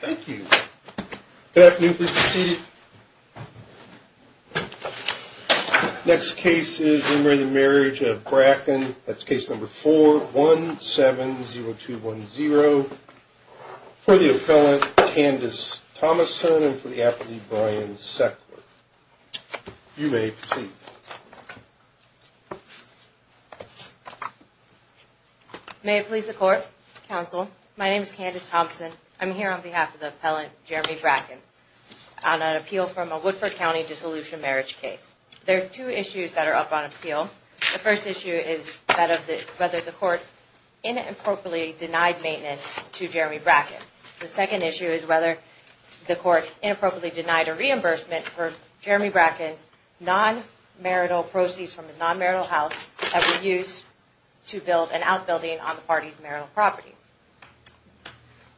Thank you. Good afternoon. Please be seated. Next case is in the Marriage of Bracken. That's case number 4170210. For the appellant, Candace Thomason and for the appellant, Brian Seckler. You may proceed. May it please the court, counsel. My name is Candace Thomason. I'm here on behalf of the appellant, Jeremy Bracken, on an appeal from a Woodford County dissolution marriage case. There are two issues that are up on appeal. The first issue is that of whether the court inappropriately denied maintenance to Jeremy Bracken. The second issue is whether the court inappropriately denied a reimbursement for Jeremy Bracken's non-marital proceeds from his non-marital house that were used to build an outbuilding on the party's marital property.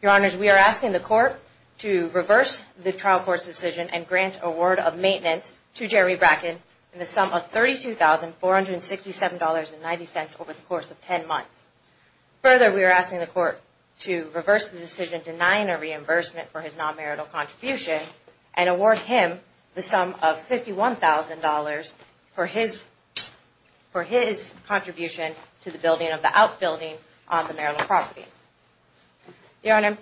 Your Honors, we are asking the court to reverse the trial court's decision and grant a word of maintenance to Jeremy Bracken in the sum of $32,467.90 over the course of 10 months. Further, we are asking the court to reverse the decision denying a reimbursement for his non-marital contribution and award him the sum of $51,000 for his contribution to the building of the outbuilding on the marital property. Your Honor,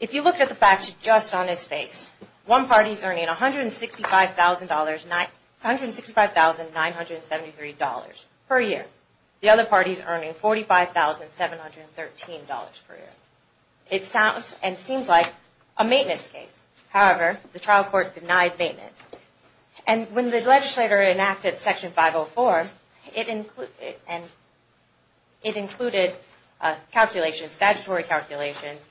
if you look at the facts just on his face, one party is earning $165,973 per year. The other party is earning $45,713 per year. It sounds and seems like a maintenance case. However, the trial court denied maintenance. When the legislator enacted Section 504, it included statutory calculations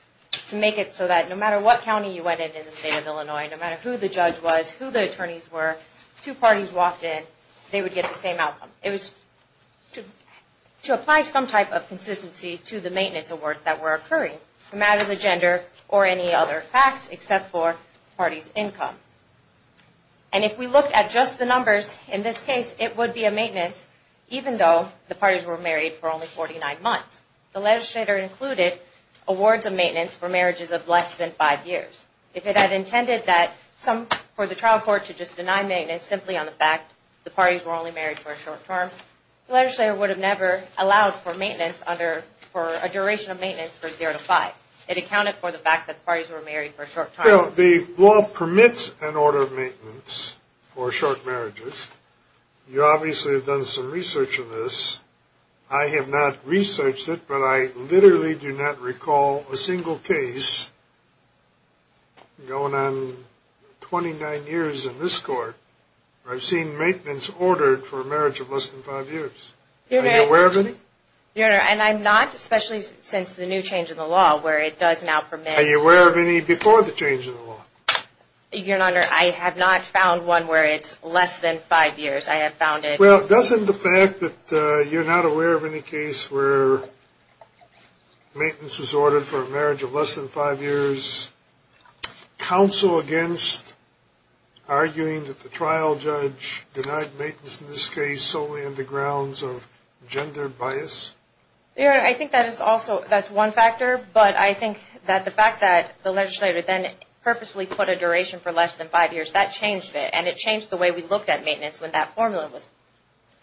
to make it so that no matter what county you went in in the state of Illinois, no matter who the judge was, who the attorneys were, two parties walked in, they would get the same outcome. It was to apply some type of consistency to the maintenance awards that were occurring, no matter the gender or any other facts except for the party's income. And if we look at just the numbers, in this case, it would be a maintenance even though the parties were married for only 49 months. The legislator included awards of maintenance for marriages of less than five years. If it had intended for the trial court to just deny maintenance simply on the fact that the parties were only married for a short term, the legislator would have never allowed for a duration of maintenance for zero to five. It accounted for the fact that the parties were married for a short term. The law permits an order of maintenance for short marriages. You obviously have done some research on this. I have not researched it, but I literally do not recall a single case going on 29 years in this court where I've seen maintenance ordered for a marriage of less than five years. Are you aware of any? Are you aware of any before the change in the law? Well, doesn't the fact that you're not aware of any case where maintenance was ordered for a marriage of less than five years counsel against arguing that the trial judge denied maintenance in this case solely on the grounds of gender bias? I think that's one factor, but I think that the fact that the legislator then purposely put a duration for less than five years, that changed it. And it changed the way we looked at maintenance when that formula was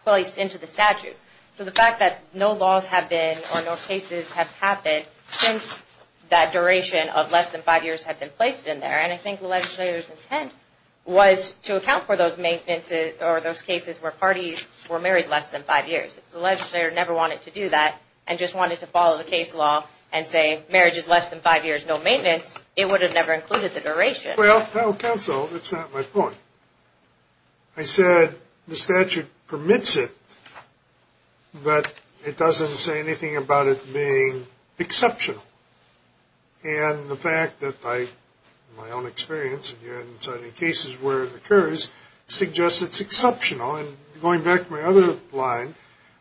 placed into the statute. So the fact that no laws have been or no cases have happened since that duration of less than five years had been placed in there, and I think the legislator's intent was to account for those cases where parties were married less than five years. If the legislator never wanted to do that and just wanted to follow the case law and say marriage is less than five years, no maintenance, it would have never included the duration. Well, counsel, it's not my point. I said the statute permits it, but it doesn't say anything about it being exceptional. And the fact that I, in my own experience, have had cases where it occurs, suggests it's exceptional. And going back to my other line,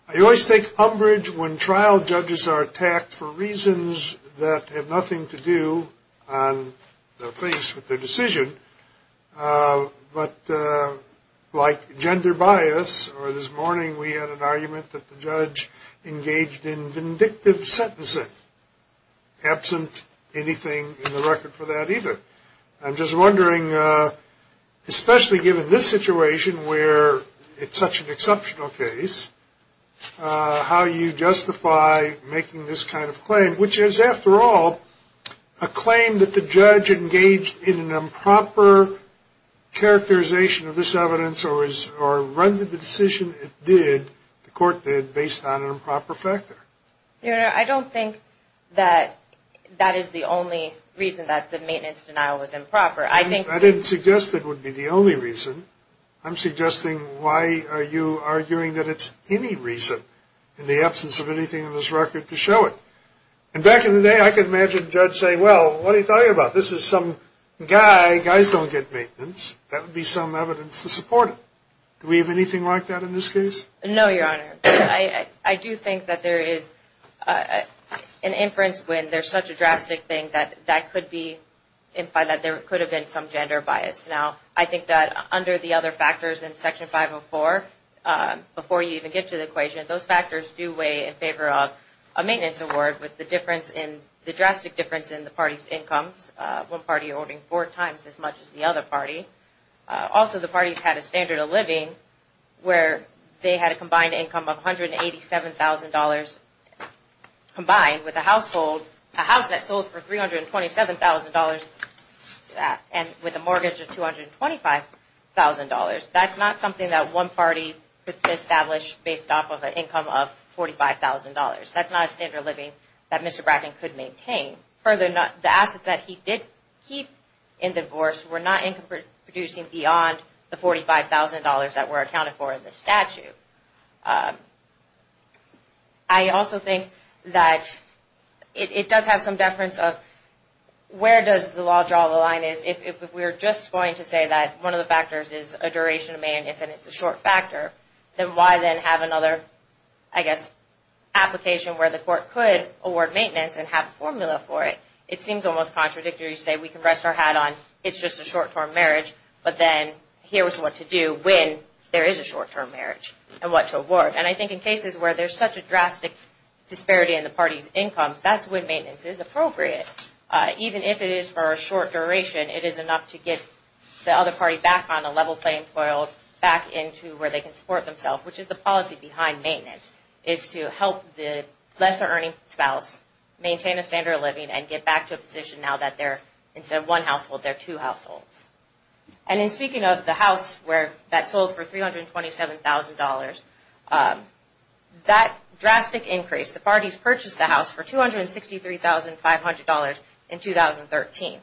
I always think umbrage when trial judges are attacked for reasons that have nothing to do on their face with their decision. But like gender bias, or this morning we had an argument that the judge engaged in vindictive sentencing, absent anything in the record for that either. I'm just wondering, especially given this situation where it's such an exceptional case, how you justify making this kind of claim, which is, after all, a claim that the judge engaged in an improper characterization of this evidence or rendered the decision it did, the court did, based on an improper factor. Your Honor, I don't think that that is the only reason that the maintenance denial was improper. I didn't suggest it would be the only reason. I'm suggesting why are you arguing that it's any reason, in the absence of anything in this record, to show it? And back in the day, I could imagine the judge saying, well, what are you talking about? This is some guy. Guys don't get maintenance. That would be some evidence to support it. Do we have anything like that in this case? No, Your Honor. I do think that there is an inference when there's such a drastic thing that that could be, in fact, that there could have been some gender bias. Now, I think that under the other factors in Section 504, before you even get to the equation, those factors do weigh in favor of a maintenance award with the difference in, the drastic difference in the party's incomes, one party owning four times as much as the other party. Also, the parties had a standard of living where they had a combined income of $187,000 combined with a household, a house that sold for $327,000 and with a mortgage of $225,000. That's not something that one party could establish based off of an income of $45,000. That's not a standard of living that Mr. Bracken could maintain. Further, the assets that he did keep in divorce were not income producing beyond the $45,000 that were accounted for in the statute. I also think that it does have some deference of where does the law draw the line is. If we're just going to say that one of the factors is a duration of maintenance and it's a short factor, then why then have another, I guess, application where the court could award maintenance and have a formula for it? It seems almost contradictory to say we can rest our hat on it's just a short-term marriage, but then here's what to do when there is a short-term marriage and what to award. I think in cases where there's such a drastic disparity in the party's incomes, that's when maintenance is appropriate. Even if it is for a short duration, it is enough to get the other party back on a level playing field, back into where they can support themselves, which is the policy behind maintenance, is to help the lesser earning spouse maintain a standard of living and get back to a position now that instead of one household, they're two households. And in speaking of the house that sold for $327,000, that drastic increase, the parties purchased the house for $263,500 in 2013.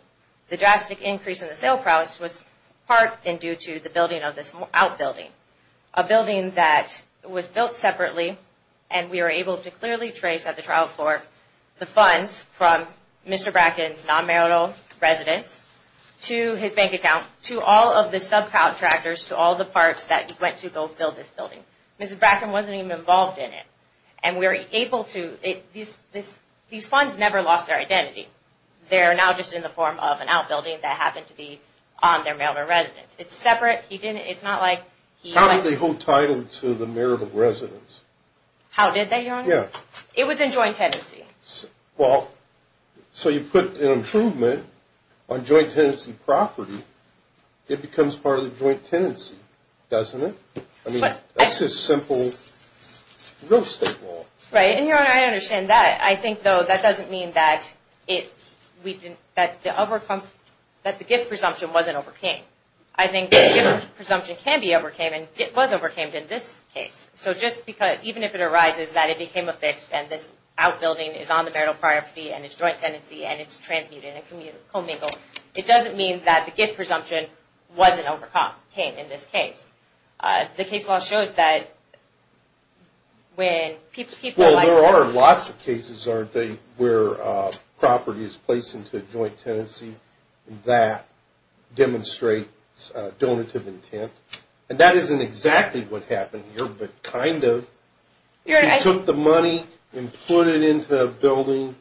The drastic increase in the sale price was part and due to the building of this outbuilding, a building that was built separately and we were able to clearly trace at the trial court the funds from Mr. Bracken's non-marital residence to his bank account, to all of the subcontractors, to all the parts that went to go build this building. Mr. Bracken wasn't even involved in it and we were able to. These funds never lost their identity. They are now just in the form of an outbuilding that happened to be on their marital residence. It's separate. How did they hold title to the marital residence? How did they, Your Honor? It was in joint tenancy. Well, so you put an improvement on joint tenancy property. It becomes part of the joint tenancy, doesn't it? I mean, that's just simple real estate law. Right, and Your Honor, I understand that. I think, though, that doesn't mean that the gift presumption wasn't overcame. I think the gift presumption can be overcame and it was overcame in this case. So just because, even if it arises that it became affixed and this outbuilding is on the marital property and it's joint tenancy and it's transmuted and commingled, it doesn't mean that the gift presumption wasn't overcame in this case. The case law shows that when people- Well, there are lots of cases, aren't there, where property is placed into a joint tenancy that demonstrates donative intent. And that isn't exactly what happened here, but kind of. He took the money and put it into a building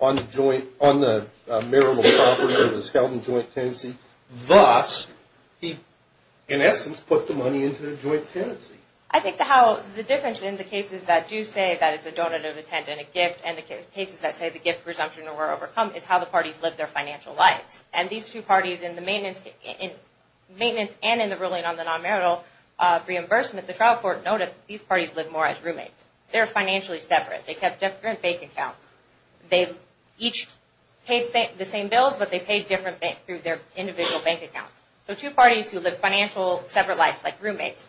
on the marital property that was held in joint tenancy. Thus, he, in essence, put the money into the joint tenancy. I think the difference in the cases that do say that it's a donative intent and a gift and the cases that say the gift presumption were overcome is how the parties lived their financial lives. And these two parties in the maintenance and in the ruling on the non-marital reimbursement, the trial court noted these parties lived more as roommates. They were financially separate. They kept different bank accounts. They each paid the same bills, but they paid different through their individual bank accounts. So two parties who lived financial separate lives like roommates.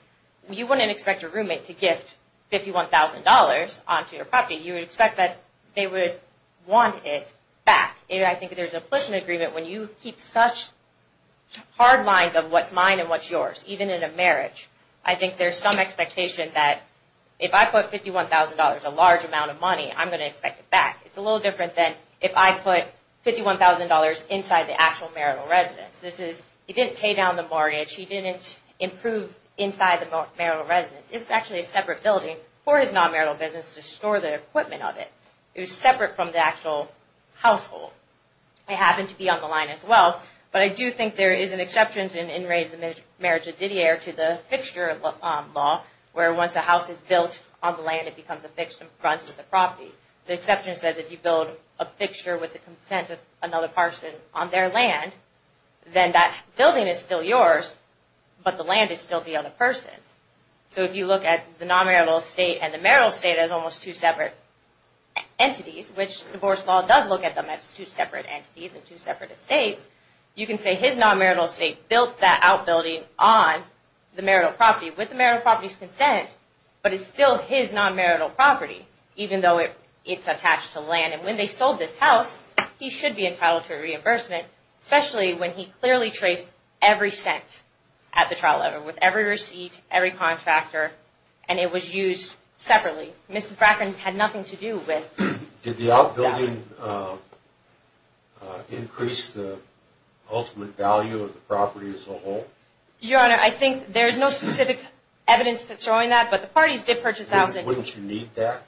You wouldn't expect your roommate to gift $51,000 onto your property. You would expect that they would want it back. I think there's an implicit agreement when you keep such hard lines of what's mine and what's yours, even in a marriage. I think there's some expectation that if I put $51,000, a large amount of money, I'm going to expect it back. It's a little different than if I put $51,000 inside the actual marital residence. He didn't pay down the mortgage. He didn't improve inside the marital residence. It was actually a separate building for his non-marital business to store the equipment of it. It was separate from the actual household. It happened to be on the line as well. But I do think there is an exception in In Re Marriage of Didier to the fixture law, where once a house is built on the land, it becomes affixed in front of the property. The exception says if you build a fixture with the consent of another person on their land, then that building is still yours, but the land is still the other person's. If you look at the non-marital estate and the marital estate as almost two separate entities, which divorce law does look at them as two separate entities and two separate estates, you can say his non-marital estate built that outbuilding on the marital property with the marital property's consent, but it's still his non-marital property, even though it's attached to land. When they sold this house, he should be entitled to a reimbursement, especially when he clearly traced every cent at the trial level with every receipt, every contractor, and it was used separately. Mrs. Bracken had nothing to do with that. Did the outbuilding increase the ultimate value of the property as a whole? Your Honor, I think there is no specific evidence that's showing that, but the parties did purchase the house. Wouldn't you need that?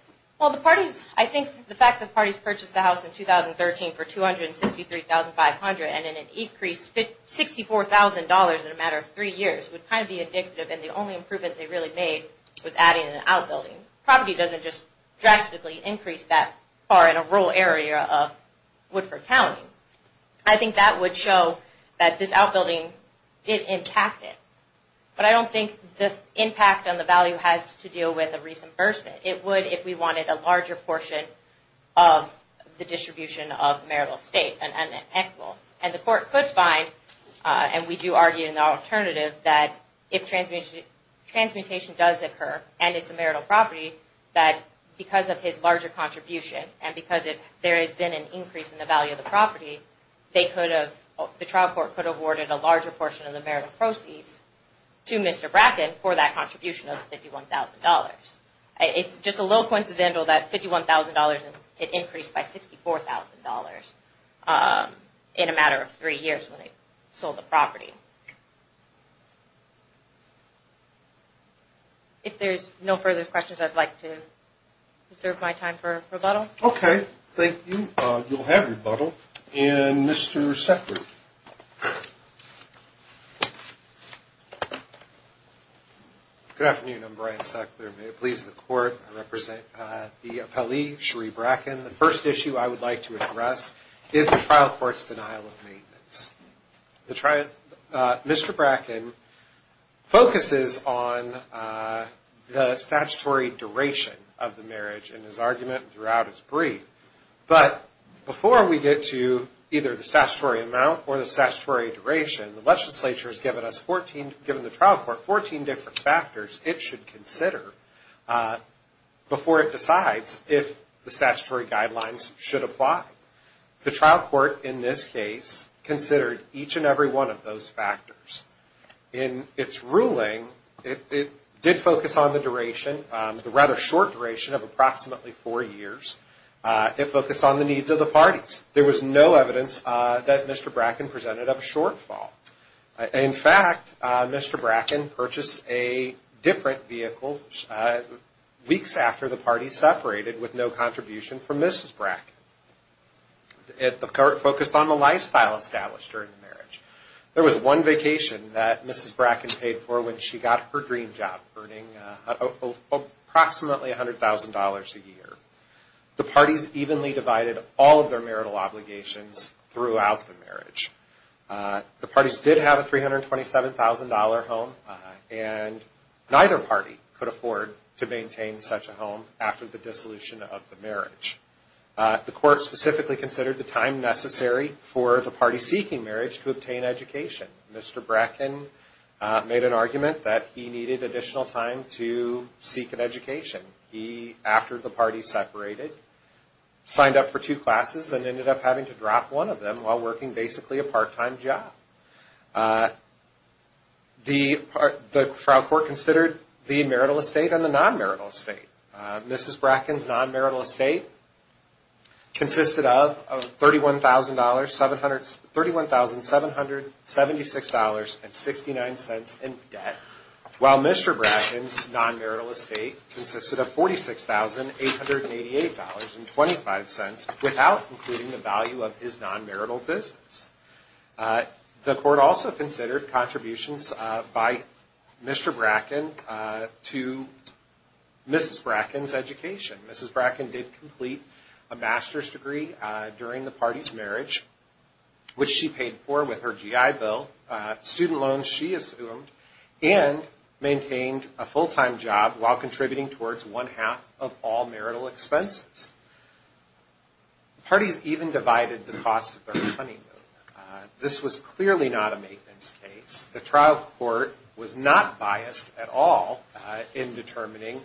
I think the fact that parties purchased the house in 2013 for $263,500 and then it increased $64,000 in a matter of three years would kind of be indicative that the only improvement they really made was adding an outbuilding. Property doesn't just drastically increase that far in a rural area of Woodford County. I think that would show that this outbuilding did impact it, but I don't think the impact on the value has to deal with a reimbursement. It would if we wanted a larger portion of the distribution of marital estate and equivalent. The court could find, and we do argue in our alternative, that if transmutation does occur and it's a marital property, that because of his larger contribution and because there has been an increase in the value of the property, the trial court could have awarded a larger portion of the marital proceeds to Mr. Bracken for that contribution of $51,000. It's just a little coincidental that $51,000 increased by $64,000 in a matter of three years when they sold the property. If there's no further questions, I'd like to reserve my time for rebuttal. Okay. Thank you. You'll have rebuttal. And Mr. Sackler. Good afternoon. I'm Brian Sackler. May it please the Court, I represent the appellee, Cherie Bracken. The first issue I would like to address is the trial court's denial of maintenance. Mr. Bracken focuses on the statutory duration of the marriage in his argument throughout his brief, but before we get to either the statutory amount or the statutory duration, the legislature has given the trial court 14 different factors it should consider before it decides if the statutory guidelines should apply. The trial court in this case considered each and every one of those factors. In its ruling, it did focus on the duration, the rather short duration of approximately four years. It focused on the needs of the parties. There was no evidence that Mr. Bracken presented a shortfall. In fact, Mr. Bracken purchased a different vehicle weeks after the parties separated with no contribution from Mrs. Bracken. It focused on the lifestyle established during the marriage. There was one vacation that Mrs. Bracken paid for when she got her dream job, earning approximately $100,000 a year. The parties evenly divided all of their marital obligations throughout the marriage. The parties did have a $327,000 home, and neither party could afford to maintain such a home after the dissolution of the marriage. The court specifically considered the time necessary for the party seeking marriage to obtain education. Mr. Bracken made an argument that he needed additional time to seek an education. He, after the parties separated, signed up for two classes and ended up having to drop one of them while working basically a part-time job. The trial court considered the marital estate and the non-marital estate. Mrs. Bracken's non-marital estate consisted of $31,776.69 in debt, while Mr. Bracken's non-marital estate consisted of $46,888.25 without including the value of his non-marital business. The court also considered contributions by Mr. Bracken to Mrs. Bracken's education. Mrs. Bracken did complete a master's degree during the party's marriage, which she paid for with her GI bill, student loans she assumed, and maintained a full-time job while contributing towards one-half of all marital expenses. The parties even divided the cost of their honeymoon. This was clearly not a maintenance case. The trial court was not biased at all in determining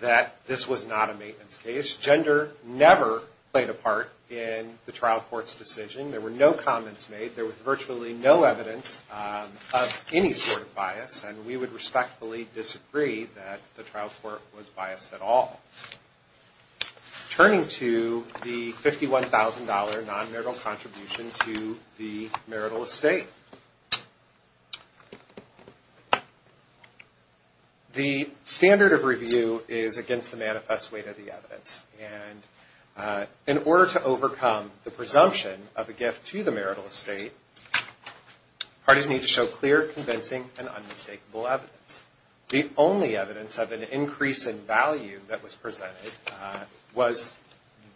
that this was not a maintenance case. Gender never played a part in the trial court's decision. There were no comments made. There was virtually no evidence of any sort of bias, and we would respectfully disagree that the trial court was biased at all. Turning to the $51,000 non-marital contribution to the marital estate. The standard of review is against the manifest weight of the evidence, and in order to overcome the presumption of a gift to the marital estate, parties need to show clear, convincing, and unmistakable evidence. The only evidence of an increase in value that was presented was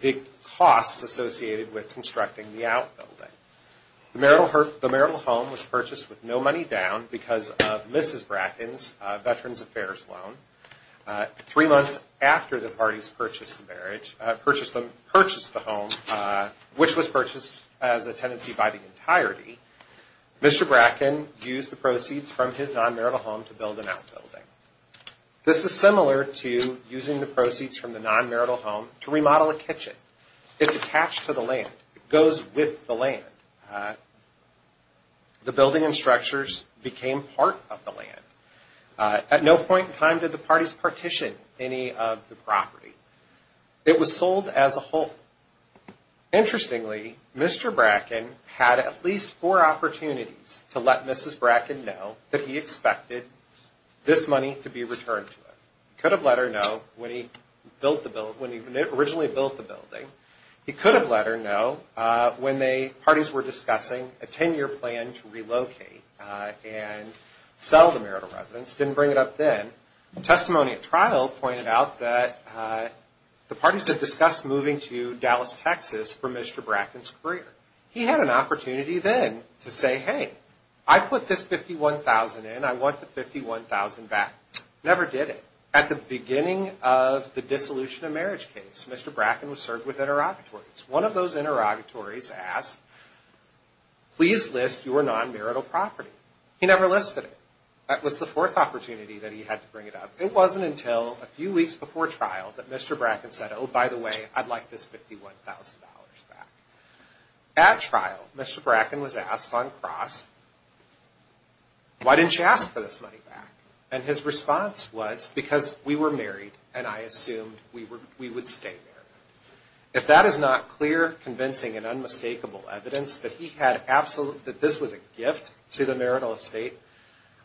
the costs associated with constructing the outbuilding. The marital home was purchased with no money down because of Mrs. Bracken's Veterans Affairs loan. Three months after the parties purchased the home, which was purchased as a tenancy by the entirety, Mr. Bracken used the proceeds from his non-marital home to build an outbuilding. This is similar to using the proceeds from the non-marital home to remodel a kitchen. It's attached to the land. It goes with the land. The building and structures became part of the land. At no point in time did the parties partition any of the property. It was sold as a whole. Interestingly, Mr. Bracken had at least four opportunities to let Mrs. Bracken know that he expected this money to be returned to him. He could have let her know when he originally built the building. He could have let her know when the parties were discussing a ten-year plan to relocate and sell the marital residence. He didn't bring it up then. Testimony at trial pointed out that the parties had discussed moving to Dallas, Texas for Mr. Bracken's career. He had an opportunity then to say, hey, I put this $51,000 in. I want the $51,000 back. Never did it. At the beginning of the dissolution of marriage case, Mr. Bracken was served with interrogatories. One of those interrogatories asked, please list your non-marital property. He never listed it. That was the fourth opportunity that he had to bring it up. It wasn't until a few weeks before trial that Mr. Bracken said, oh, by the way, I'd like this $51,000 back. At trial, Mr. Bracken was asked on cross, why didn't you ask for this money back? And his response was, because we were married and I assumed we would stay married. If that is not clear, convincing and unmistakable evidence that this was a gift to the marital estate,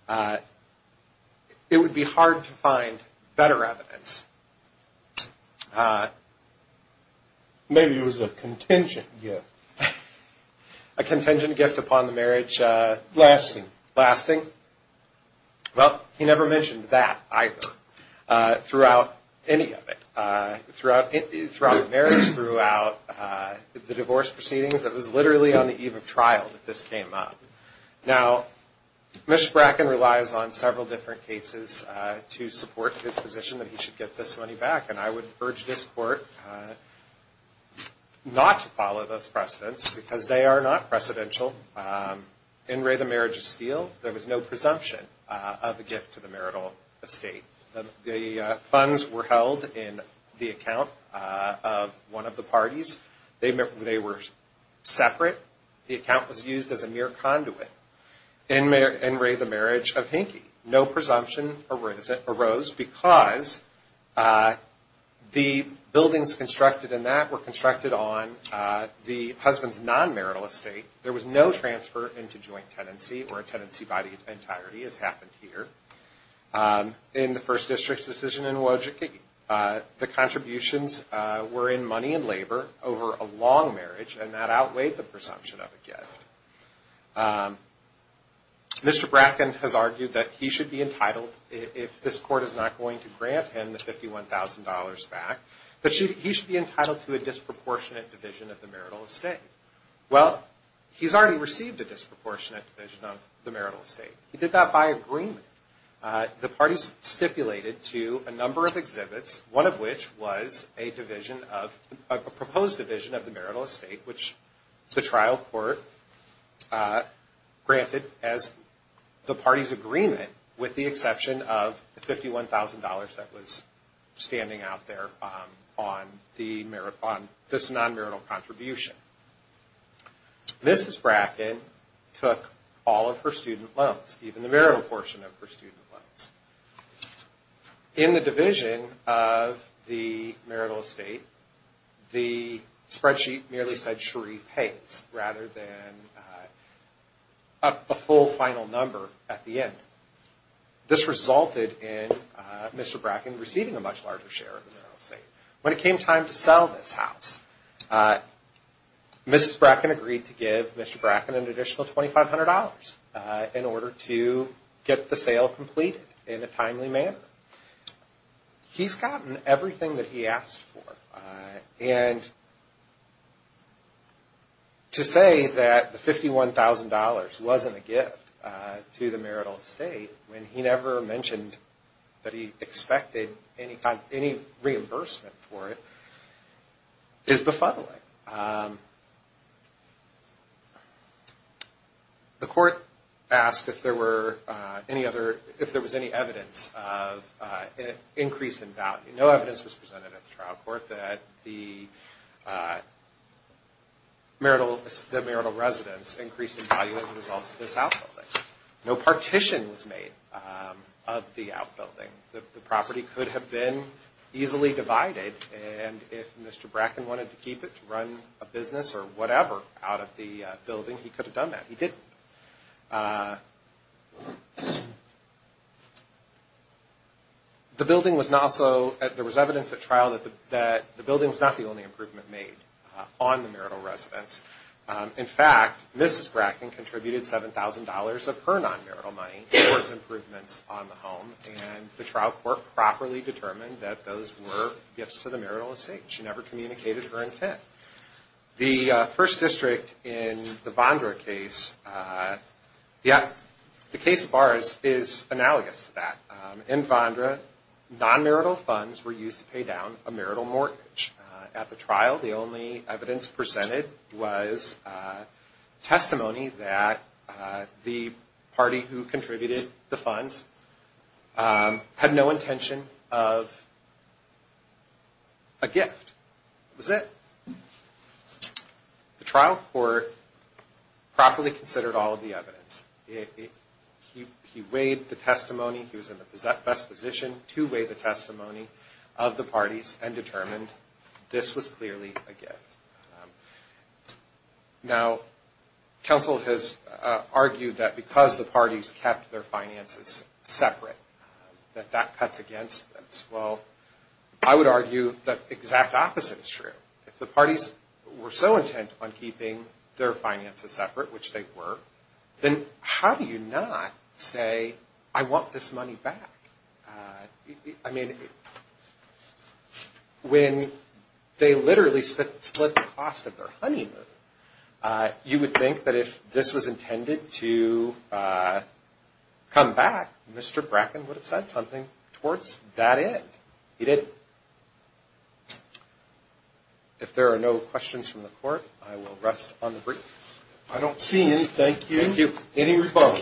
it would be hard to find better evidence. Maybe it was a contingent gift. A contingent gift upon the marriage. Lasting. Lasting. Well, he never mentioned that either throughout any of it. Throughout the marriage, throughout the divorce proceedings, it was literally on the eve of trial that this came up. Now, Mr. Bracken relies on several different cases to support his position that he should get this money back, and I would urge this court not to follow those precedents because they are not precedential. In re the marriage is sealed. There was no presumption of a gift to the marital estate. The funds were held in the account of one of the parties. They were separate. The account was used as a mere conduit. In re the marriage of Hinky, no presumption arose because the buildings constructed in that were constructed on the husband's non-marital estate. There was no transfer into joint tenancy or a tenancy body in entirety as happened here. In the First District's decision in Wojcicki, the contributions were in money and labor over a long marriage, and that outweighed the presumption of a gift. Mr. Bracken has argued that he should be entitled, if this court is not going to grant him the $51,000 back, that he should be entitled to a disproportionate division of the marital estate. Well, he's already received a disproportionate division of the marital estate. He did that by agreement. The parties stipulated to a number of exhibits, one of which was a proposed division of the marital estate, which the trial court granted as the parties' agreement with the exception of the $51,000 that was standing out there on this non-marital contribution. Mrs. Bracken took all of her student loans, even the marital portion of her student loans. In the division of the marital estate, the spreadsheet merely said, Mr. Bracken receiving a much larger share of the marital estate. When it came time to sell this house, Mrs. Bracken agreed to give Mr. Bracken an additional $2,500 in order to get the sale completed in a timely manner. He's gotten everything that he asked for, and to say that the $51,000 wasn't a gift to the marital estate when he never mentioned that he expected any reimbursement for it is befuddling. The court asked if there was any evidence of an increase in value. No evidence was presented at the trial court that the marital residence increased in value as a result of this outfilling. No partition was made of the outbuilding. The property could have been easily divided, and if Mr. Bracken wanted to keep it to run a business or whatever out of the building, he could have done that. He didn't. There was evidence at trial that the building was not the only improvement made on the marital residence. In fact, Mrs. Bracken contributed $7,000 of her non-marital money towards improvements on the home, and the trial court properly determined that those were gifts to the marital estate. She never communicated her intent. The First District in the Vondra case is analogous to that. In Vondra, non-marital funds were used to pay down a marital mortgage. At the trial, the only evidence presented was testimony that the party who contributed the funds had no intention of a gift. That was it. The trial court properly considered all of the evidence. He weighed the testimony. He was in the best position to weigh the testimony of the parties and determined this was clearly a gift. Now, counsel has argued that because the parties kept their finances separate, that that cuts against this. Well, I would argue that the exact opposite is true. If the parties were so intent on keeping their finances separate, which they were, then how do you not say, I want this money back? I mean, when they literally split the cost of their honeymoon, you would think that if this was intended to come back, Mr. Bracken would have said something towards that end. He didn't. If there are no questions from the court, I will rest on the brief. I don't see any. Thank you. Any rebuttal?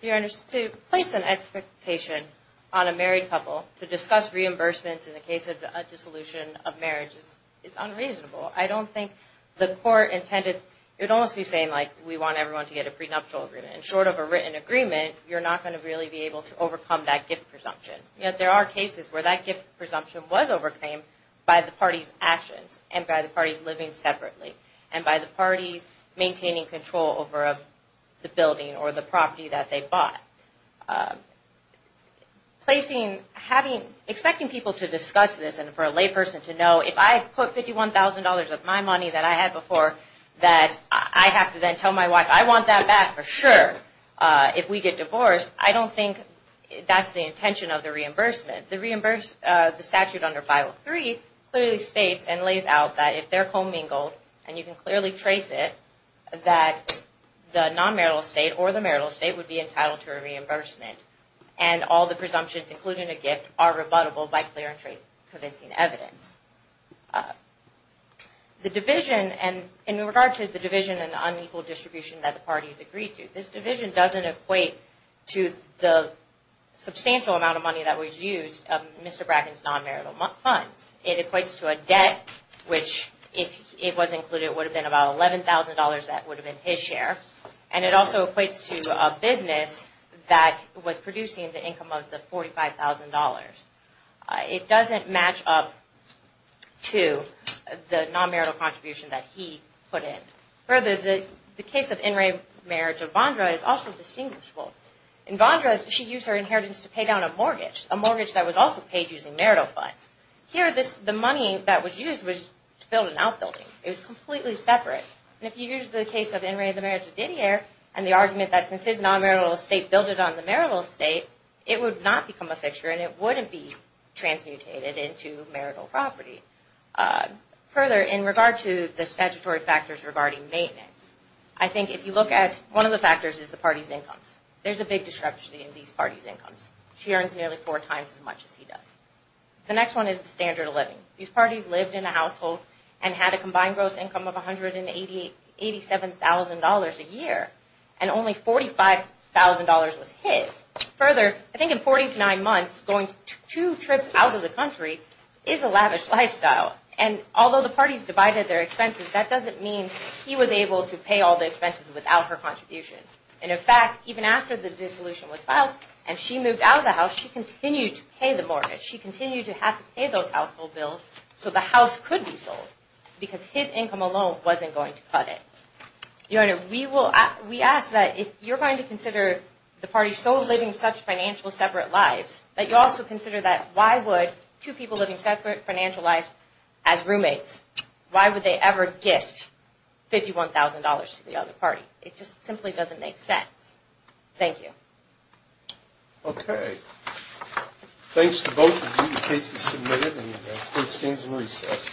Your Honor, to place an expectation on a married couple to discuss reimbursements in the case of a dissolution of marriage is unreasonable. I don't think the court intended, it would almost be saying, like, we want everyone to get a prenuptial agreement. And short of a written agreement, you're not going to really be able to overcome that gift presumption. Yet there are cases where that gift presumption was overcame by the party's actions and by the parties living separately and by the parties maintaining control over the building or the property that they bought. Placing, expecting people to discuss this and for a lay person to know, if I put $51,000 of my money that I had before, that I have to then tell my wife, I want that back for sure. If we get divorced, I don't think that's the intention of the reimbursement. The statute under 503 clearly states and lays out that if they're commingled, and you can clearly trace it, that the non-marital estate or the marital estate would be entitled to a reimbursement. And all the presumptions, including a gift, are rebuttable by clear and convincing evidence. The division, and in regard to the division and unequal distribution that the parties agreed to, this division doesn't equate to the substantial amount of money that was used of Mr. Bracken's non-marital funds. It equates to a debt, which if it was included, it would have been about $11,000 that would have been his share. And it also equates to a business that was producing the income of the $45,000. It doesn't match up to the non-marital contribution that he put in. Further, the case of in-rate marriage of Vondra is also distinguishable. In Vondra, she used her inheritance to pay down a mortgage, a mortgage that was also paid using marital funds. Here, the money that was used was to build an outbuilding. It was completely separate. And if you use the case of in-rate of the marriage of Didier and the argument that since his non-marital estate built it on the marital estate, it would not become a fixture and it wouldn't be transmutated into marital property. Further, in regard to the statutory factors regarding maintenance, I think if you look at one of the factors is the parties' incomes. There's a big discrepancy in these parties' incomes. She earns nearly four times as much as he does. The next one is the standard of living. These parties lived in a household and had a combined gross income of $187,000 a year. And only $45,000 was his. Further, I think in 49 months, going two trips out of the country is a lavish lifestyle. And although the parties divided their expenses, that doesn't mean he was able to pay all the expenses without her contribution. And in fact, even after the dissolution was filed and she moved out of the house, she continued to pay the mortgage. She continued to have to pay those household bills so the house could be sold because his income alone wasn't going to cut it. We ask that if you're going to consider the parties' souls living such financial separate lives, that you also consider that why would two people living separate financial lives as roommates, why would they ever gift $51,000 to the other party? It just simply doesn't make sense. Thank you. Okay. Thanks to both of you. The case is submitted and court stands in recess.